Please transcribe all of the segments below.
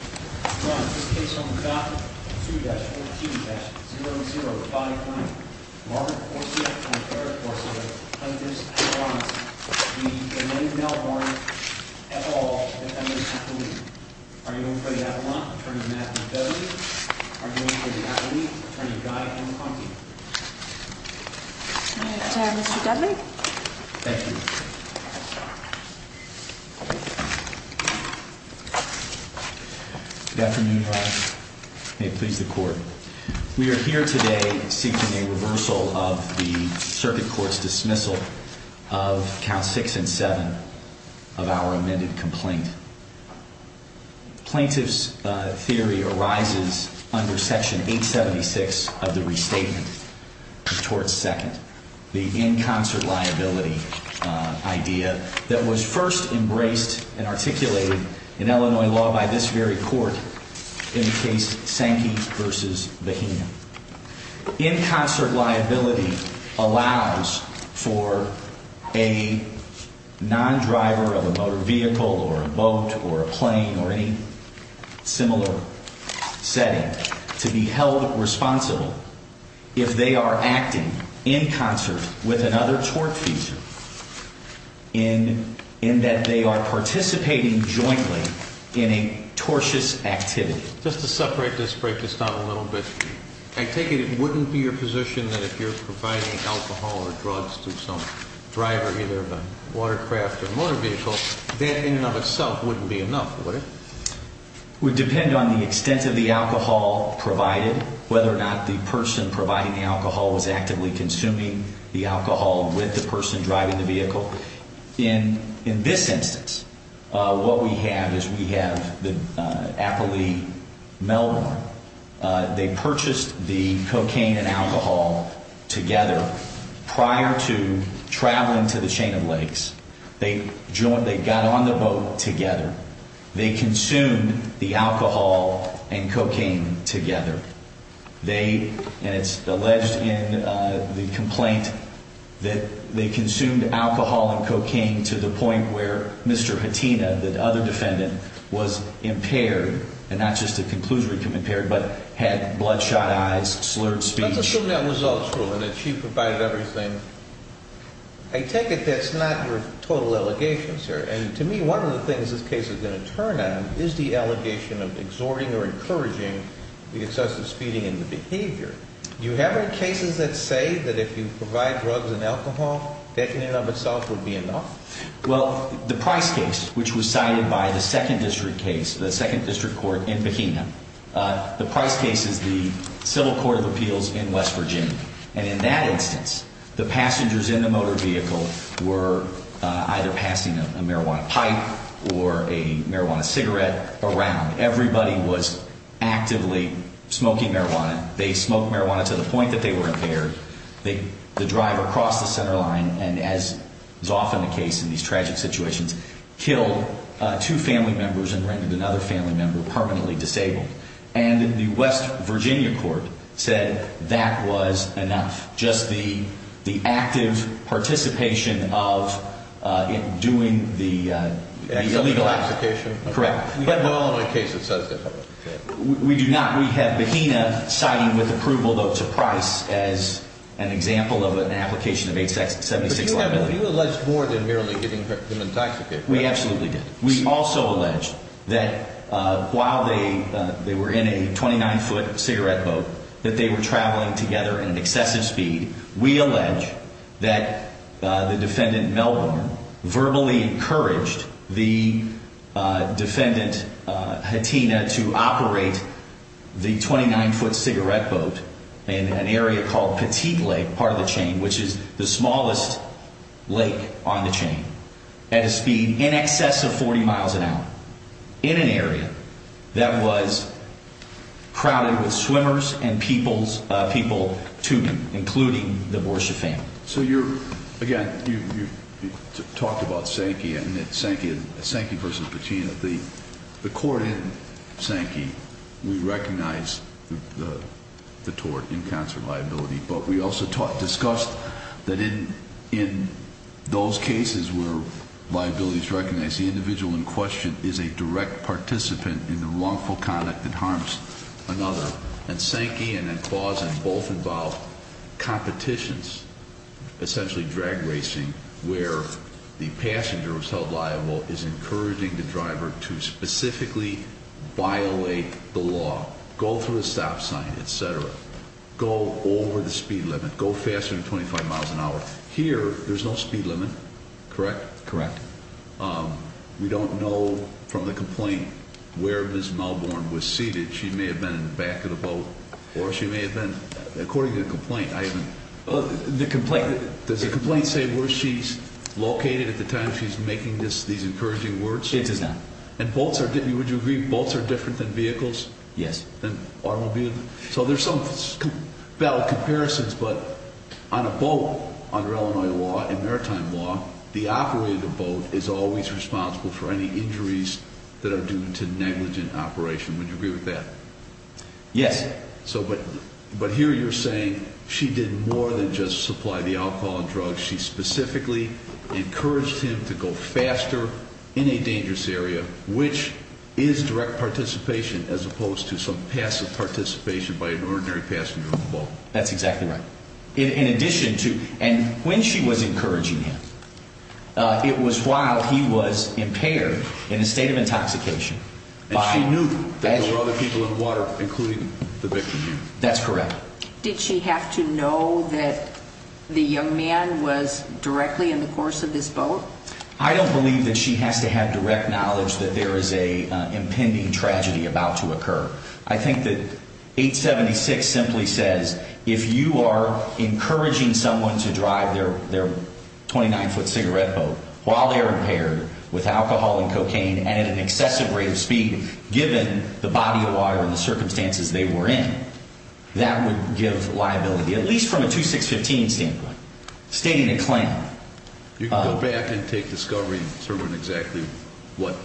Ron, this case is on the dot. 2-14-0059. Marvin Corsi and Clare Corsi are plaintiffs. I want the Elaine Melbourne et al. defendants to leave. Are you in for the Avalon? Attorney Matthew Dudley? Are you in for the Avalon? Attorney Guy M. Conti? I'm in for Mr. Dudley. Thank you. Good afternoon, Ron. May it please the Court. We are here today seeking a reversal of the Circuit Court's dismissal of Counts 6 and 7 of our amended complaint. Plaintiff's theory arises under Section 876 of the Restatement of Torts 2nd. The in concert liability idea that was first embraced and articulated in Illinois law by this very court in the case Sankey v. Bahena. In concert liability allows for a non-driver of a motor vehicle or a boat or a plane or any similar setting to be held responsible if they are acting in concert with another tort feature in that they are participating jointly in a tortious activity. Just to separate this, break this down a little bit, I take it it wouldn't be your position that if you're providing alcohol or drugs to some driver, either of a watercraft or motor vehicle, that in and of itself wouldn't be enough, would it? It would depend on the extent of the alcohol provided, whether or not the person providing the alcohol was actively consuming the alcohol with the person driving the vehicle. In this instance, what we have is we have the Appley-Melbourne. They purchased the cocaine and alcohol together prior to traveling to the Chain of Lakes. They got on the boat together. They consumed the alcohol and cocaine together. They, and it's alleged in the complaint, that they consumed alcohol and cocaine to the point where Mr. Hatina, the other defendant, was impaired and not just a conclusive impairment, but had bloodshot eyes, slurred speech. Let's assume that was all true and that she provided everything. I take it that's not your total allegation, sir. And to me, one of the things this case is going to turn on is the allegation of exhorting or encouraging the excessive speeding and the behavior. Do you have any cases that say that if you provide drugs and alcohol, that in and of itself would be enough? Well, the Price case, which was cited by the Second District case, the Second District Court in Bikina, the Price case is the Civil Court of Appeals in West Virginia. And in that instance, the passengers in the motor vehicle were either passing a marijuana pipe or a marijuana cigarette around. Everybody was actively smoking marijuana. They smoked marijuana to the point that they were impaired. The driver crossed the center line and, as is often the case in these tragic situations, killed two family members and rendered another family member permanently disabled. And the West Virginia court said that was enough. Just the active participation of doing the illegal act. Excessive intoxication? Correct. You don't have a case that says that. We do not. We have Bikina citing with approval, though, to Price as an example of an application of $8.76 million. But you alleged more than merely getting him intoxicated, correct? We absolutely did. We also alleged that while they were in a 29-foot cigarette boat, that they were traveling together in excessive speed. We allege that the defendant, Melbourne, verbally encouraged the defendant, Hatina, to operate the 29-foot cigarette boat in an area called Petit Lake, part of the chain, which is the smallest lake on the chain, at a speed in excess of 40 miles an hour. In an area that was crowded with swimmers and people tubing, including the Borsche family. So you're, again, you talked about Sankey and Sankey v. Patina. The court in Sankey, we recognize the tort in concert liability. But we also discussed that in those cases where liability is recognized, the individual in question is a direct participant in the wrongful conduct that harms another. And Sankey and Clausen both involve competitions, essentially drag racing, where the passenger who's held liable is encouraging the driver to specifically violate the law. Go through the stop sign, etc. Go over the speed limit. Go faster than 25 miles an hour. Here, there's no speed limit, correct? Correct. We don't know from the complaint where Ms. Melbourne was seated. She may have been in the back of the boat. Or she may have been, according to the complaint, I haven't... The complaint... Does the complaint say where she's located at the time she's making these encouraging words? It does not. And boats are, would you agree, boats are different than vehicles? Yes. So there's some comparisons, but on a boat, under Illinois law and maritime law, the operator of the boat is always responsible for any injuries that are due to negligent operation. Would you agree with that? Yes. But here you're saying she did more than just supply the alcohol and drugs. She specifically encouraged him to go faster in a dangerous area, which is direct participation as opposed to some passive participation by an ordinary passenger on the boat. That's exactly right. In addition to... And when she was encouraging him, it was while he was impaired in a state of intoxication. And she knew that there were other people in the water, including the victim. That's correct. Did she have to know that the young man was directly in the course of this boat? I don't believe that she has to have direct knowledge that there is an impending tragedy about to occur. I think that 876 simply says if you are encouraging someone to drive their 29-foot cigarette boat while they're impaired with alcohol and cocaine and at an excessive rate of speed, given the body of water and the circumstances they were in, that would give liability, at least from a 2-6-15 standpoint, stating a claim. You can go back and take discovery and determine exactly what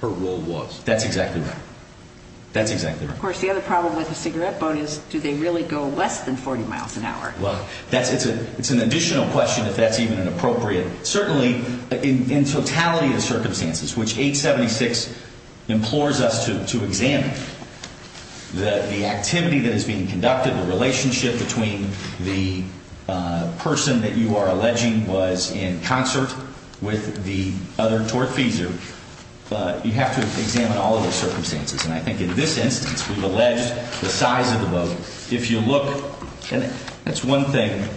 her role was. That's exactly right. That's exactly right. Of course, the other problem with a cigarette boat is do they really go less than 40 miles an hour? Well, it's an additional question if that's even an appropriate... And I think in this instance, we've alleged the size of the boat. If you look, and that's one thing,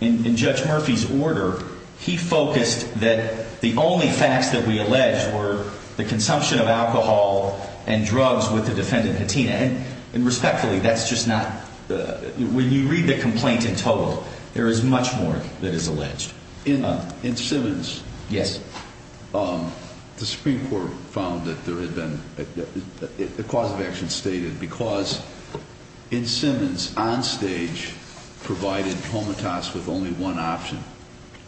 in Judge Murphy's order, he focused that the only facts that we alleged were the consumption of alcohol and drugs with the defendant, Hattina. And respectfully, that's just not... When you read the complaint in total, there is much more that is alleged. In Simmons... Yes. ...the Supreme Court found that there had been... The cause of action stated, because in Simmons, on stage, provided Homatas with only one option,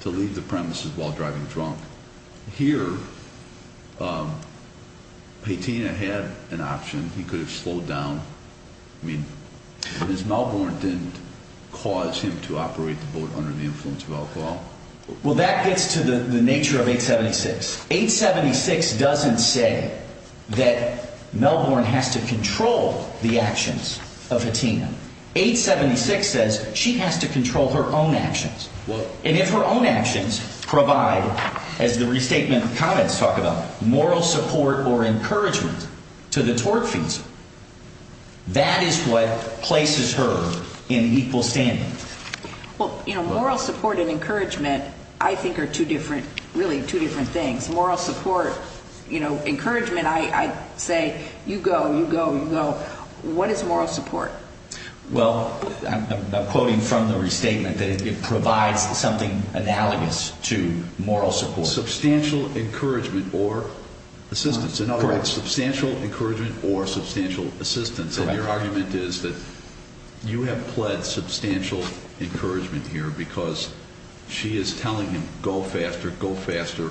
to leave the premises while driving drunk. Here, Hattina had an option. He could have slowed down. I mean, Ms. Melbourne didn't cause him to operate the boat under the influence of alcohol. Well, that gets to the nature of 876. 876 doesn't say that Melbourne has to control the actions of Hattina. 876 says she has to control her own actions. And if her own actions provide, as the restatement comments talk about, moral support or encouragement to the tort fees, that is what places her in equal standing. Well, you know, moral support and encouragement, I think, are two different, really, two different things. Moral support, you know, encouragement, I say, you go, you go, you go. What is moral support? Well, I'm quoting from the restatement that it provides something analogous to moral support. Substantial encouragement or assistance. Correct. Substantial encouragement or substantial assistance. Correct. And your argument is that you have pled substantial encouragement here because she is telling him, go faster, go faster,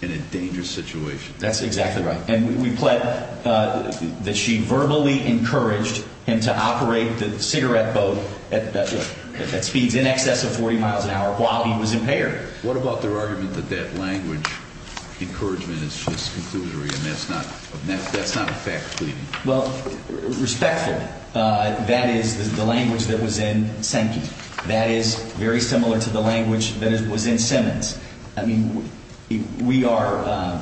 in a dangerous situation. That's exactly right. And we pled that she verbally encouraged him to operate the cigarette boat at speeds in excess of 40 miles an hour while he was impaired. What about their argument that that language encouragement is just conclusory and that's not a fact pleading? Well, respectful. That is the language that was in Sankey. That is very similar to the language that was in Simmons. I mean, we are,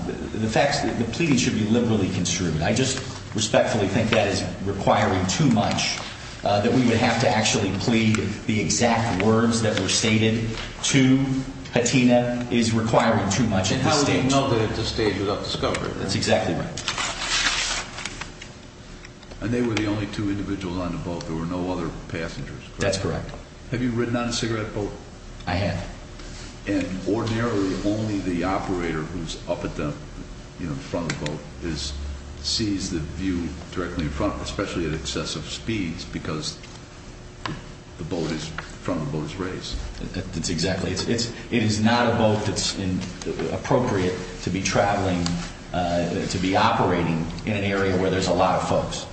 the facts, the pleading should be liberally construed. I just respectfully think that is requiring too much, that we would have to actually plead the exact words that were stated to Hattina is requiring too much at this stage. And how would they have known that at this stage without discovery? That's exactly right. And they were the only two individuals on the boat. There were no other passengers. That's correct. Have you ridden on a cigarette boat? I have. And ordinarily, only the operator who's up at the front of the boat sees the view directly in front, especially at excessive speeds, because the boat is, the front of the boat is raised. That's exactly. It is not a boat that's appropriate to be traveling, to be operating in an area where there's a lot of folks.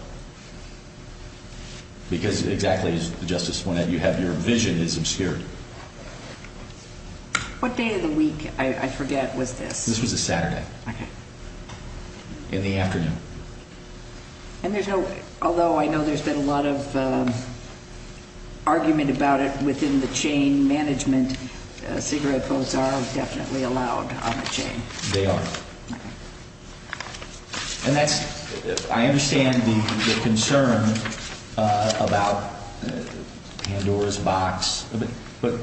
Because exactly as the Justice pointed out, you have, your vision is obscured. What day of the week, I forget, was this? This was a Saturday. Okay. In the afternoon. And there's no, although I know there's been a lot of argument about it within the chain management, cigarette boats are definitely allowed on the chain. They are. And that's, I understand the concern about Pandora's box. But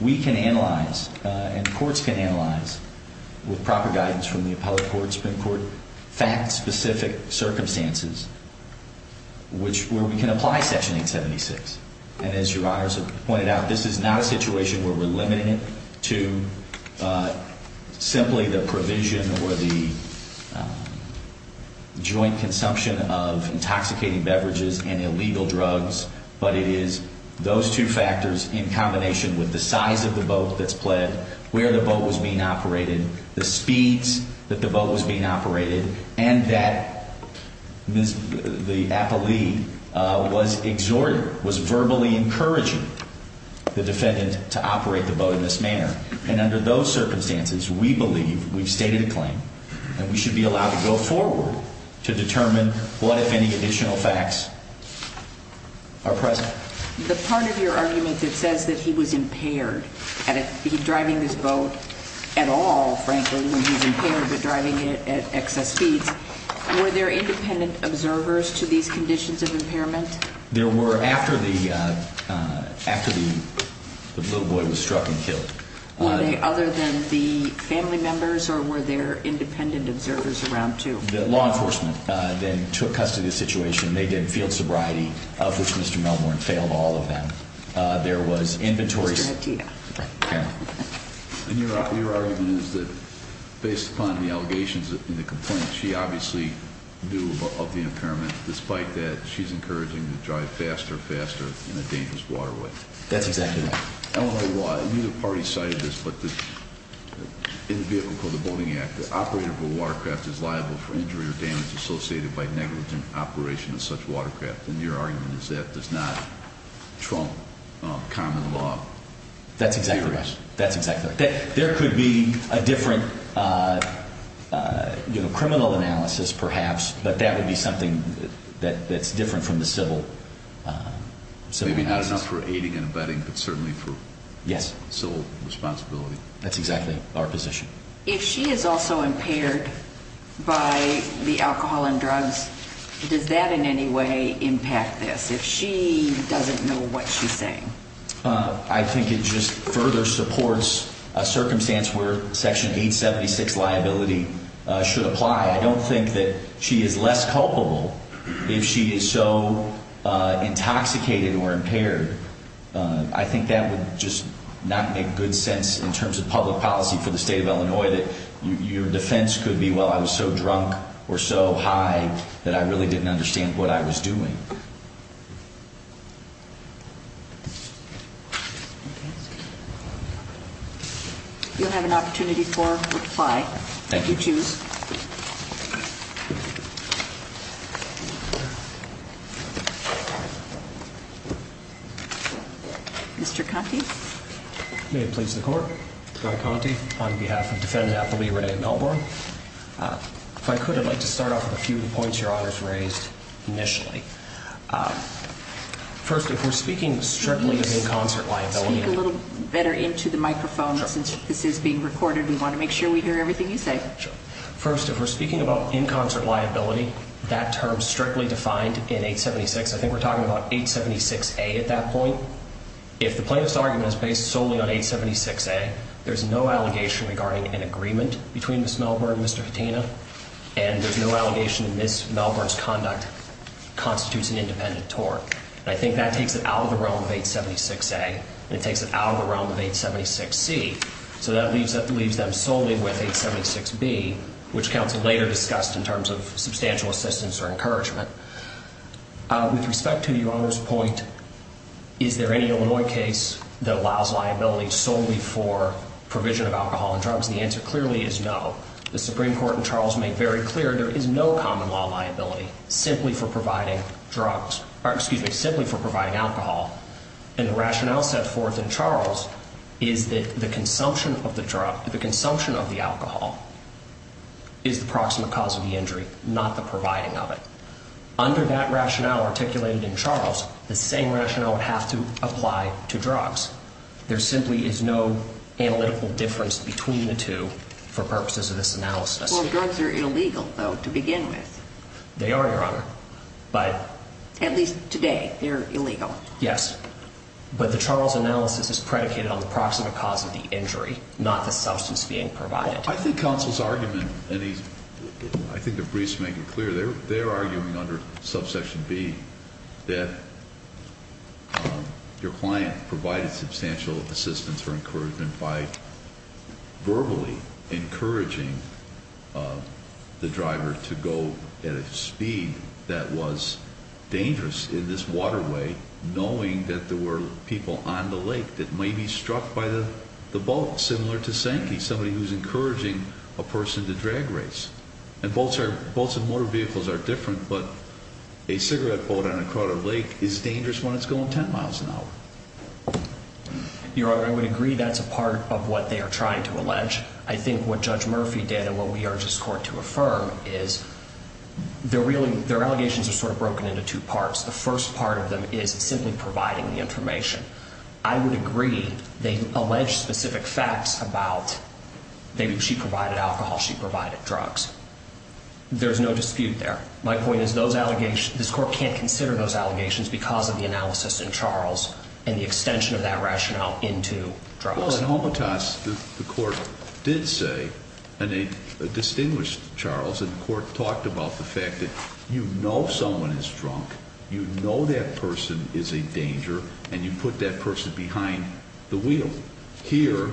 we can analyze and courts can analyze with proper guidance from the appellate courts and court fact-specific circumstances, which, where we can apply Section 876. And as your honors have pointed out, this is not a situation where we're limiting it to simply the provision or the joint consumption of intoxicating beverages and illegal drugs. But it is those two factors in combination with the size of the boat that's pled, where the boat was being operated, the speeds that the boat was being operated, and that the appellee was verbally encouraging the defendant to operate the boat in this manner. And under those circumstances, we believe, we've stated a claim, that we should be allowed to go forward to determine what, if any, additional facts are present. The part of your argument that says that he was impaired at driving this boat at all, frankly, when he's impaired, but driving it at excess speeds, were there independent observers to these conditions of impairment? There were, after the little boy was struck and killed. Were they other than the family members, or were there independent observers around, too? The law enforcement then took custody of the situation. They did field sobriety, of which Mr. Melbourne failed all of them. There was inventory. Mr. Hattia. And your argument is that, based upon the allegations and the complaints, she obviously knew of the impairment. Despite that, she's encouraging him to drive faster and faster in a dangerous waterway. That's exactly right. I don't know why either party cited this, but in the vehicle for the Boating Act, the operator of a watercraft is liable for injury or damage associated by negligent operation of such watercraft. And your argument is that does not trump common law. That's exactly right. That's exactly right. There could be a different criminal analysis, perhaps, but that would be something that's different from the civil analysis. Maybe not enough for aiding and abetting, but certainly for civil responsibility. That's exactly our position. If she is also impaired by the alcohol and drugs, does that in any way impact this, if she doesn't know what she's saying? I think it just further supports a circumstance where Section 876 liability should apply. I don't think that she is less culpable if she is so intoxicated or impaired. I think that would just not make good sense in terms of public policy for the state of Illinois, that your defense could be, well, I was so drunk or so high that I really didn't understand what I was doing. You'll have an opportunity for reply if you choose. Thank you. Mr. Conte. May it please the court. John Conte, on behalf of defendant athlete Renee Melbourne. If I could, I'd like to start off with a few of the points your Honor's raised initially. First, if we're speaking strictly of in-concert liability. Speak a little better into the microphone since this is being recorded. We want to make sure we hear everything you say. First, if we're speaking about in-concert liability, that term strictly defined in 876. I think we're talking about 876A at that point. If the plaintiff's argument is based solely on 876A, there's no allegation regarding an agreement between Ms. Melbourne and Mr. Katina. And there's no allegation that Ms. Melbourne's conduct constitutes an independent tort. And I think that takes it out of the realm of 876A and it takes it out of the realm of 876C. So that leaves them solely with 876B, which counsel later discussed in terms of substantial assistance or encouragement. With respect to your Honor's point, is there any Illinois case that allows liability solely for provision of alcohol and drugs? The answer clearly is no. The Supreme Court and Charles make very clear there is no common law liability simply for providing drugs. Or excuse me, simply for providing alcohol. And the rationale set forth in Charles is that the consumption of the drug, the consumption of the alcohol, is the proximate cause of the injury, not the providing of it. Under that rationale articulated in Charles, the same rationale would have to apply to drugs. There simply is no analytical difference between the two for purposes of this analysis. Well, drugs are illegal, though, to begin with. They are, Your Honor. At least today, they're illegal. Yes. But the Charles analysis is predicated on the proximate cause of the injury, not the substance being provided. I think counsel's argument, and I think the briefs make it clear, they're arguing under subsection B that your client provided substantial assistance or encouragement by verbally encouraging the driver to go at a speed that was dangerous in this waterway, knowing that there were people on the lake that may be struck by the boat, similar to Sankey, somebody who's encouraging a person to drag race. And boats and motor vehicles are different, but a cigarette boat on a crowded lake is dangerous when it's going 10 miles an hour. Your Honor, I would agree that's a part of what they are trying to allege. I think what Judge Murphy did and what we urge this Court to affirm is their allegations are sort of broken into two parts. The first part of them is simply providing the information. I would agree they allege specific facts about she provided alcohol, she provided drugs. There's no dispute there. My point is this Court can't consider those allegations because of the analysis in Charles and the extension of that rationale into drugs. Well, in Homotas, the Court did say, and they distinguished Charles, and the Court talked about the fact that you know someone is drunk, you know that person is a danger, and you put that person behind the wheel. Here,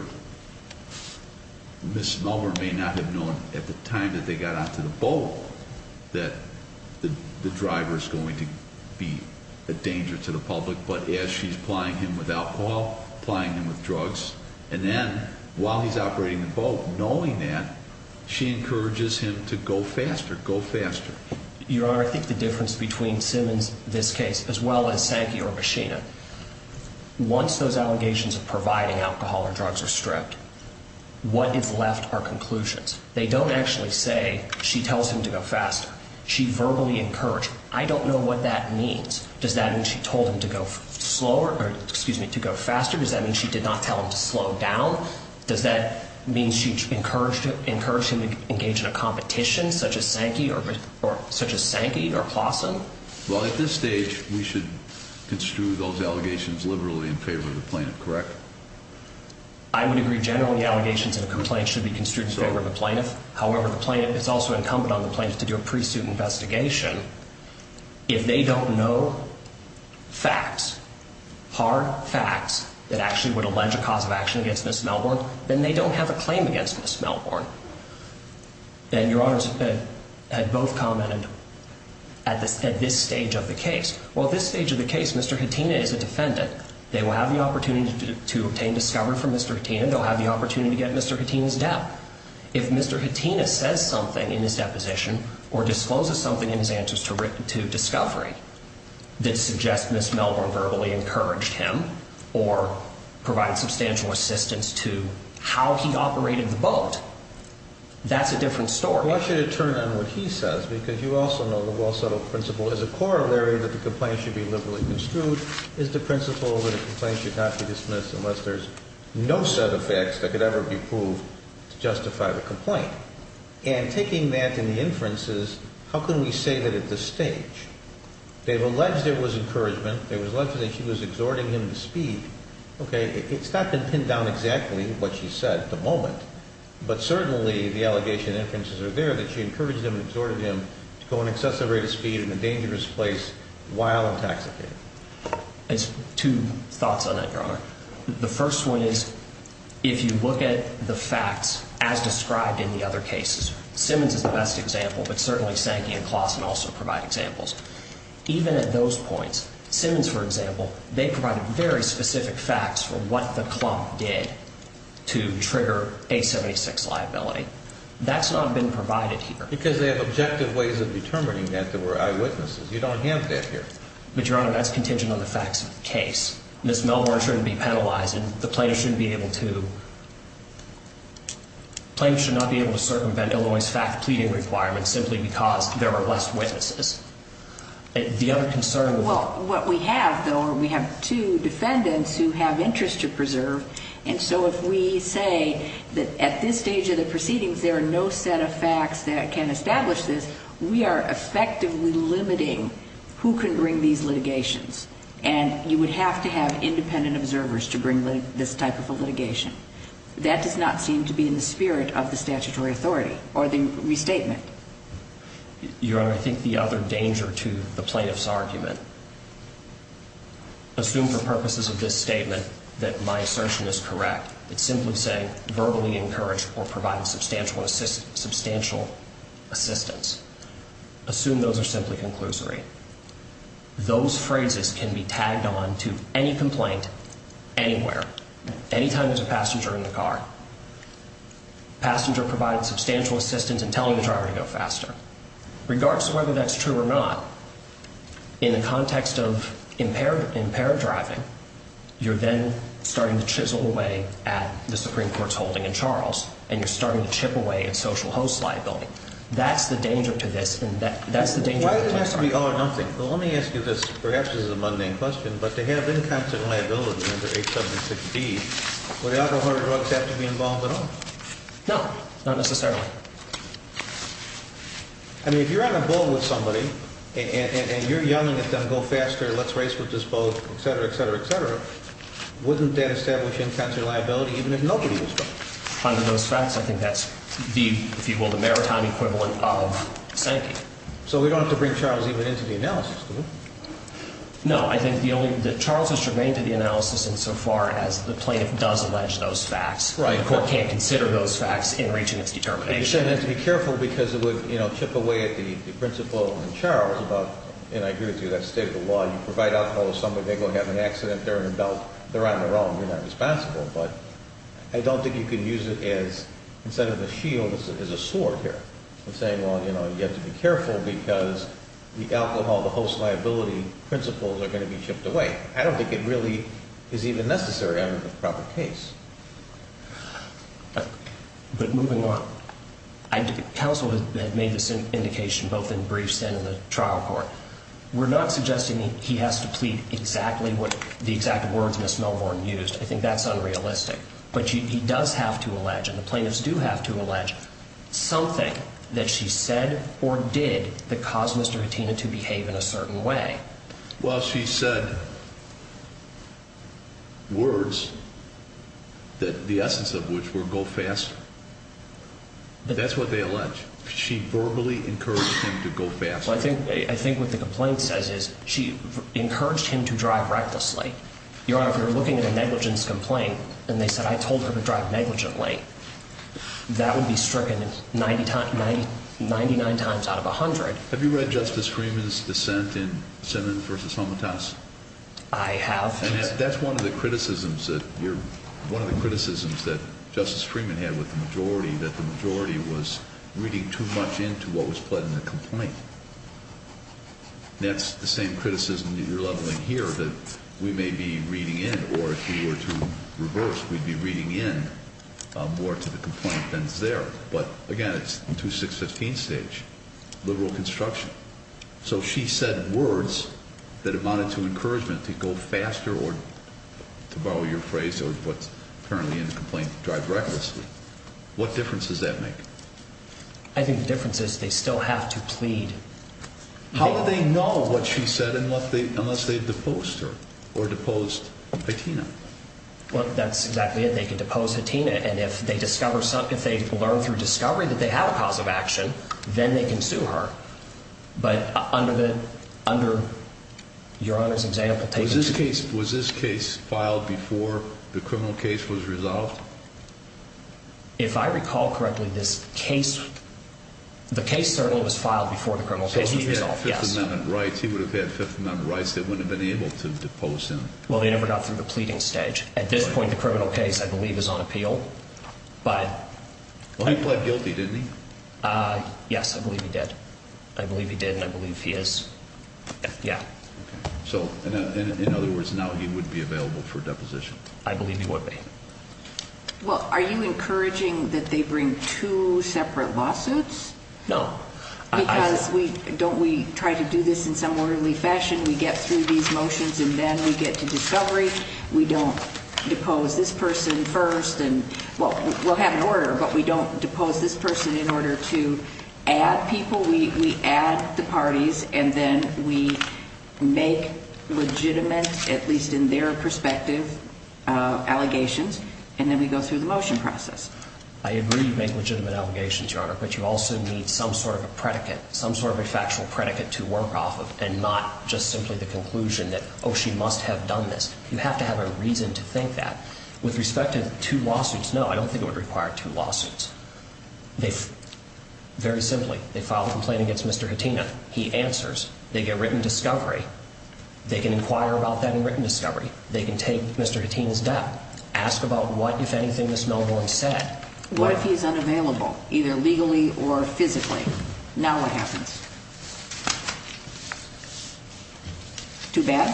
Ms. Melmer may not have known at the time that they got onto the boat that the driver's going to be a danger to the public, but as she's plying him with alcohol, plying him with drugs, and then while he's operating the boat, knowing that, she encourages him to go faster, go faster. Your Honor, I think the difference between Simmons, this case, as well as Sankey or Bushina, once those allegations of providing alcohol or drugs are stripped, what is left are conclusions. They don't actually say she tells him to go faster. She verbally encouraged him. I don't know what that means. Does that mean she told him to go slower or, excuse me, to go faster? Does that mean she did not tell him to slow down? Does that mean she encouraged him to engage in a competition such as Sankey or Clawson? Well, at this stage, we should construe those allegations liberally in favor of the plaintiff, correct? I would agree generally the allegations in a complaint should be construed in favor of the plaintiff. However, it's also incumbent on the plaintiff to do a pre-suit investigation. If they don't know facts, hard facts, that actually would allege a cause of action against Ms. Melbourne, then they don't have a claim against Ms. Melbourne. And Your Honors had both commented at this stage of the case. Well, at this stage of the case, Mr. Hattina is a defendant. They will have the opportunity to obtain discovery from Mr. Hattina. They'll have the opportunity to get Mr. Hattina's debt. If Mr. Hattina says something in his deposition or discloses something in his answers to discovery that suggests Ms. Melbourne verbally encouraged him or provided substantial assistance to how he operated the boat, that's a different story. Why should it turn on what he says? Because you also know the well-settled principle is a corollary that the complaint should be liberally construed is the principle that a complaint should not be dismissed unless there's no set of facts that could ever be proved to justify the complaint. And taking that in the inferences, how can we say that at this stage? They've alleged there was encouragement. They've alleged that she was exhorting him to speed. Okay, it's not been pinned down exactly what she said at the moment, but certainly the allegation and inferences are there that she encouraged him and exhorted him to go an excessive rate of speed in a dangerous place while intoxicated. Two thoughts on that, Your Honor. The first one is if you look at the facts as described in the other cases, Simmons is the best example, but certainly Sankey and Klassen also provide examples. Even at those points, Simmons, for example, they provided very specific facts for what the clump did to trigger a 76 liability. That's not been provided here. Because they have objective ways of determining that there were eyewitnesses. You don't have that here. But, Your Honor, that's contingent on the facts of the case. Ms. Melbourne shouldn't be penalized, and the plaintiff shouldn't be able to – plaintiff should not be able to circumvent Illinois' fact-pleading requirements simply because there were less witnesses. The other concern – Well, what we have, though, we have two defendants who have interest to preserve, and so if we say that at this stage of the proceedings there are no set of facts that can establish this, we are effectively limiting who can bring these litigations, and you would have to have independent observers to bring this type of litigation. That does not seem to be in the spirit of the statutory authority or the restatement. Your Honor, I think the other danger to the plaintiff's argument – It's simply saying verbally encouraged or provided substantial assistance. Assume those are simply conclusory. Those phrases can be tagged on to any complaint anywhere, anytime there's a passenger in the car. Passenger provided substantial assistance in telling the driver to go faster. Regardless of whether that's true or not, in the context of impaired driving, you're then starting to chisel away at the Supreme Court's holding in Charles, and you're starting to chip away at social host's liability. That's the danger to this, and that's the danger to the plaintiff's argument. Why does it have to be all or nothing? Well, let me ask you this. Perhaps this is a mundane question, but to have in-constant liability under H. 716, would alcohol or drugs have to be involved at all? No, not necessarily. I mean, if you're on a boat with somebody, and you're yelling at them, go faster, let's race with this boat, et cetera, et cetera, et cetera, wouldn't that establish in-constant liability even if nobody was going? Under those facts, I think that's the, if you will, the maritime equivalent of sanking. So we don't have to bring Charles even into the analysis, do we? No. I think the only – Charles has remained in the analysis insofar as the plaintiff does allege those facts. Right. The court can't consider those facts in reaching its determination. You're saying you have to be careful because it would chip away at the principle in Charles about, and I agree with you, that state of the law, you provide alcohol to somebody, they're going to have an accident, they're in a belt, they're on their own, they're not responsible. But I don't think you can use it as, instead of a shield, as a sword here. I'm saying, well, you know, you have to be careful because the alcohol, the host liability principles are going to be chipped away. I don't think it really is even necessary under the proper case. But moving on, counsel had made this indication both in briefs and in the trial court. We're not suggesting he has to plead exactly what the exact words Ms. Melbourne used. I think that's unrealistic. But he does have to allege, and the plaintiffs do have to allege, something that she said or did that caused Mr. Hattina to behave in a certain way. Well, she said words, the essence of which were, go faster. That's what they allege. She verbally encouraged him to go faster. I think what the complaint says is she encouraged him to drive recklessly. Your Honor, if you're looking at a negligence complaint and they said, I told her to drive negligently, that would be stricken 99 times out of 100. Have you read Justice Freeman's dissent in Simmons v. Homitas? I have. And that's one of the criticisms that Justice Freeman had with the majority, that the majority was reading too much into what was put in the complaint. That's the same criticism that you're leveling here, that we may be reading in, or if we were to reverse, we'd be reading in more to the complaint than is there. But, again, it's 2615 stage, liberal construction. So she said words that amounted to encouragement to go faster or, to borrow your phrase, what's currently in the complaint, drive recklessly. What difference does that make? I think the difference is they still have to plead. How do they know what she said unless they've deposed her or deposed Hattina? Well, that's exactly it. They can depose Hattina, and if they learn through discovery that they have a cause of action, then they can sue her. But under Your Honor's example, take it to the court. Was this case filed before the criminal case was resolved? If I recall correctly, the case certainly was filed before the criminal case was resolved, yes. So he would have had Fifth Amendment rights. He would have had Fifth Amendment rights. They wouldn't have been able to depose him. Well, they never got through the pleading stage. At this point, the criminal case, I believe, is on appeal. Well, he pled guilty, didn't he? Yes, I believe he did. I believe he did, and I believe he is. Yeah. Okay. So, in other words, now he wouldn't be available for deposition. I believe he would be. Well, are you encouraging that they bring two separate lawsuits? No. Because we try to do this in some orderly fashion. We get through these motions, and then we get to discovery. We don't depose this person first and, well, we'll have an order, but we don't depose this person in order to add people. We add the parties, and then we make legitimate, at least in their perspective, allegations, and then we go through the motion process. I agree you make legitimate allegations, Your Honor, but you also need some sort of a predicate, some sort of a factual predicate to work off of, and not just simply the conclusion that, oh, she must have done this. You have to have a reason to think that. With respect to two lawsuits, no, I don't think it would require two lawsuits. Very simply, they file a complaint against Mr. Khatina. He answers. They get written discovery. They can inquire about that in written discovery. They can take Mr. Khatina's death. Ask about what, if anything, Ms. Milwaukee said. What if he's unavailable, either legally or physically? Now what happens? Too bad?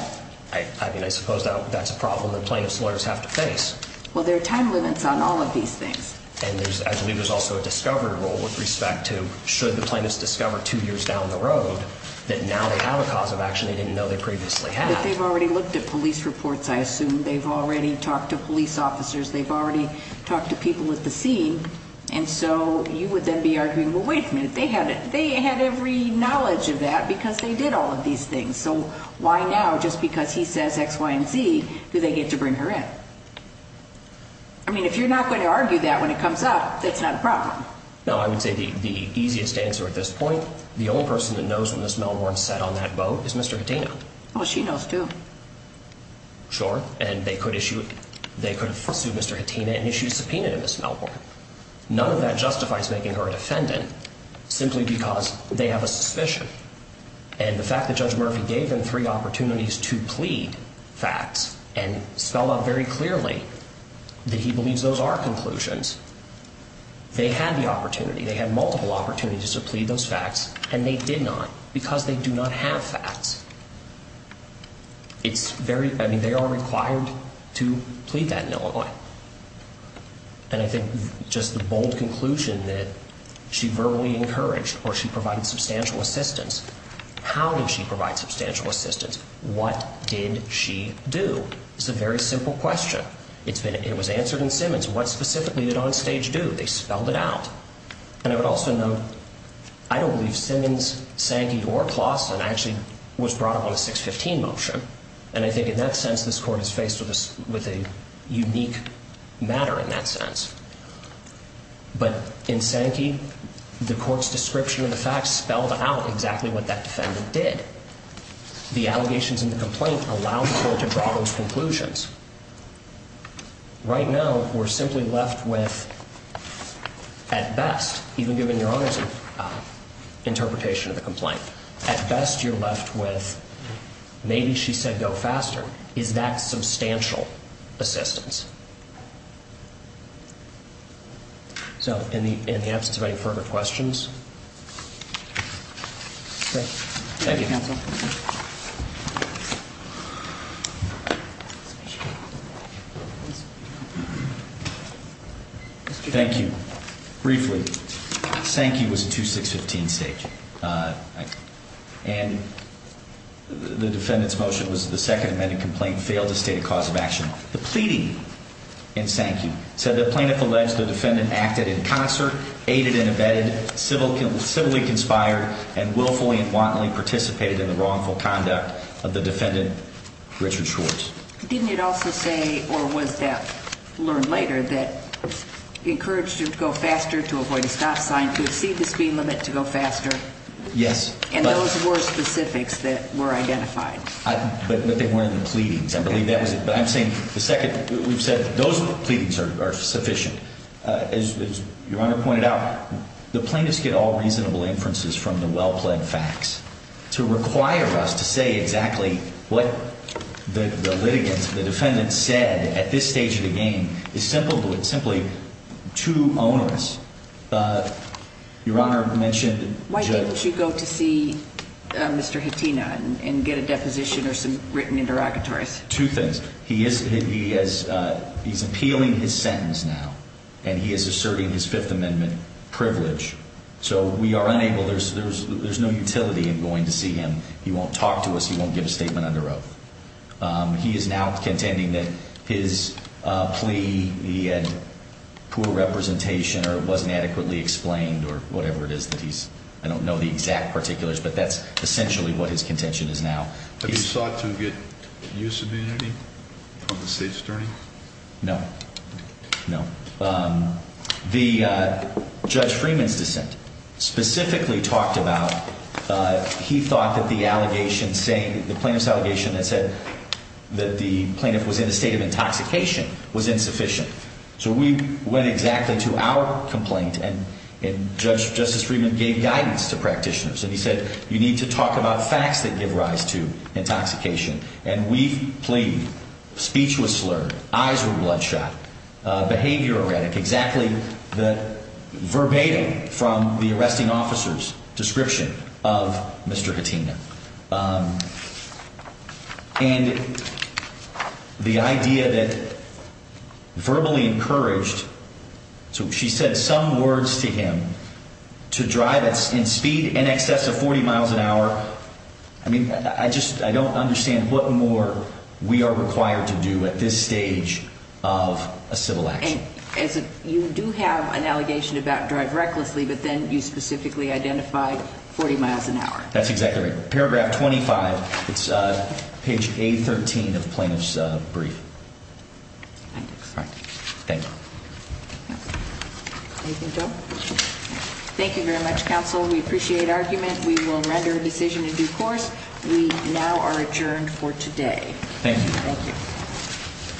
I mean, I suppose that's a problem that plaintiff's lawyers have to face. Well, there are time limits on all of these things. And I believe there's also a discovery rule with respect to should the plaintiffs discover two years down the road that now they have a cause of action they didn't know they previously had. But they've already looked at police reports, I assume. They've already talked to police officers. They've already talked to people at the scene. And so you would then be arguing, well, wait a minute, they had every knowledge of that because they did all of these things. So why now, just because he says X, Y, and Z, do they get to bring her in? I mean, if you're not going to argue that when it comes up, that's not a problem. No, I would say the easiest answer at this point, the only person that knows when Ms. Milwaukee sat on that boat is Mr. Khatina. Well, she knows, too. Sure. And they could have sued Mr. Khatina and issued a subpoena to Ms. Milwaukee. None of that justifies making her a defendant simply because they have a suspicion. And the fact that Judge Murphy gave them three opportunities to plead facts and spelled out very clearly that he believes those are conclusions, they had the opportunity, they had multiple opportunities to plead those facts, and they did not because they do not have facts. It's very, I mean, they are required to plead that in Illinois. And I think just the bold conclusion that she verbally encouraged or she provided substantial assistance, how did she provide substantial assistance? What did she do? It's a very simple question. It was answered in Simmons. What specifically did Onstage do? They spelled it out. And I would also note, I don't believe Simmons, Sankey, or Claussen actually was brought up on a 615 motion. And I think in that sense, this Court is faced with a unique matter in that sense. But in Sankey, the Court's description of the facts spelled out exactly what that defendant did. The allegations in the complaint allowed the Court to draw those conclusions. Right now, we're simply left with, at best, even given Your Honor's interpretation of the complaint, at best, you're left with maybe she said go faster. Is that substantial assistance? So in the absence of any further questions? Thank you. Thank you, counsel. Thank you. Briefly, Sankey was a 2615 state. And the defendant's motion was the second amended complaint failed to state a cause of action. The pleading in Sankey said the plaintiff alleged the defendant acted in concert, aided and abetted, civilly conspired, and willfully and wantonly participated in the wrongful conduct of the defendant, Richard Schwartz. Didn't it also say, or was that learned later, that encouraged him to go faster, to avoid a stop sign, to exceed the speed limit, to go faster? Yes. And those were specifics that were identified. But they weren't the pleadings. I believe that was it. But I'm saying the second we've said those pleadings are sufficient. As your Honor pointed out, the plaintiffs get all reasonable inferences from the well-plaid facts. To require us to say exactly what the litigants, the defendants, said at this stage of the game is simply too onerous. Your Honor mentioned Judge — Why didn't you go to see Mr. Hatena and get a deposition or some written interrogatories? Two things. He's appealing his sentence now, and he is asserting his Fifth Amendment privilege. So we are unable — there's no utility in going to see him. He won't talk to us. He won't give a statement under oath. He is now contending that his plea, he had poor representation or it wasn't adequately explained or whatever it is that he's — I don't know the exact particulars, but that's essentially what his contention is now. Have you sought to get use of immunity from the State's attorney? No. No. The — Judge Freeman's dissent specifically talked about he thought that the allegations saying — the plaintiff's allegation that said that the plaintiff was in a state of intoxication was insufficient. So we went exactly to our complaint, and Judge — Justice Freeman gave guidance to practitioners. And he said, you need to talk about facts that give rise to intoxication. And we've pleaded. Speech was slurred. Eyes were bloodshot. Behavior erratic. Exactly the verbatim from the arresting officer's description of Mr. Hatena. And the idea that verbally encouraged — so she said some words to him to drive in speed in excess of 40 miles an hour. I mean, I just — I don't understand what more we are required to do at this stage of a civil action. And you do have an allegation about drive recklessly, but then you specifically identified 40 miles an hour. That's exactly right. Paragraph 25. It's page A13 of the plaintiff's brief. All right. Thank you. Anything to add? Thank you very much, counsel. We appreciate argument. We will render a decision in due course. We now are adjourned for today. Thank you. Thank you.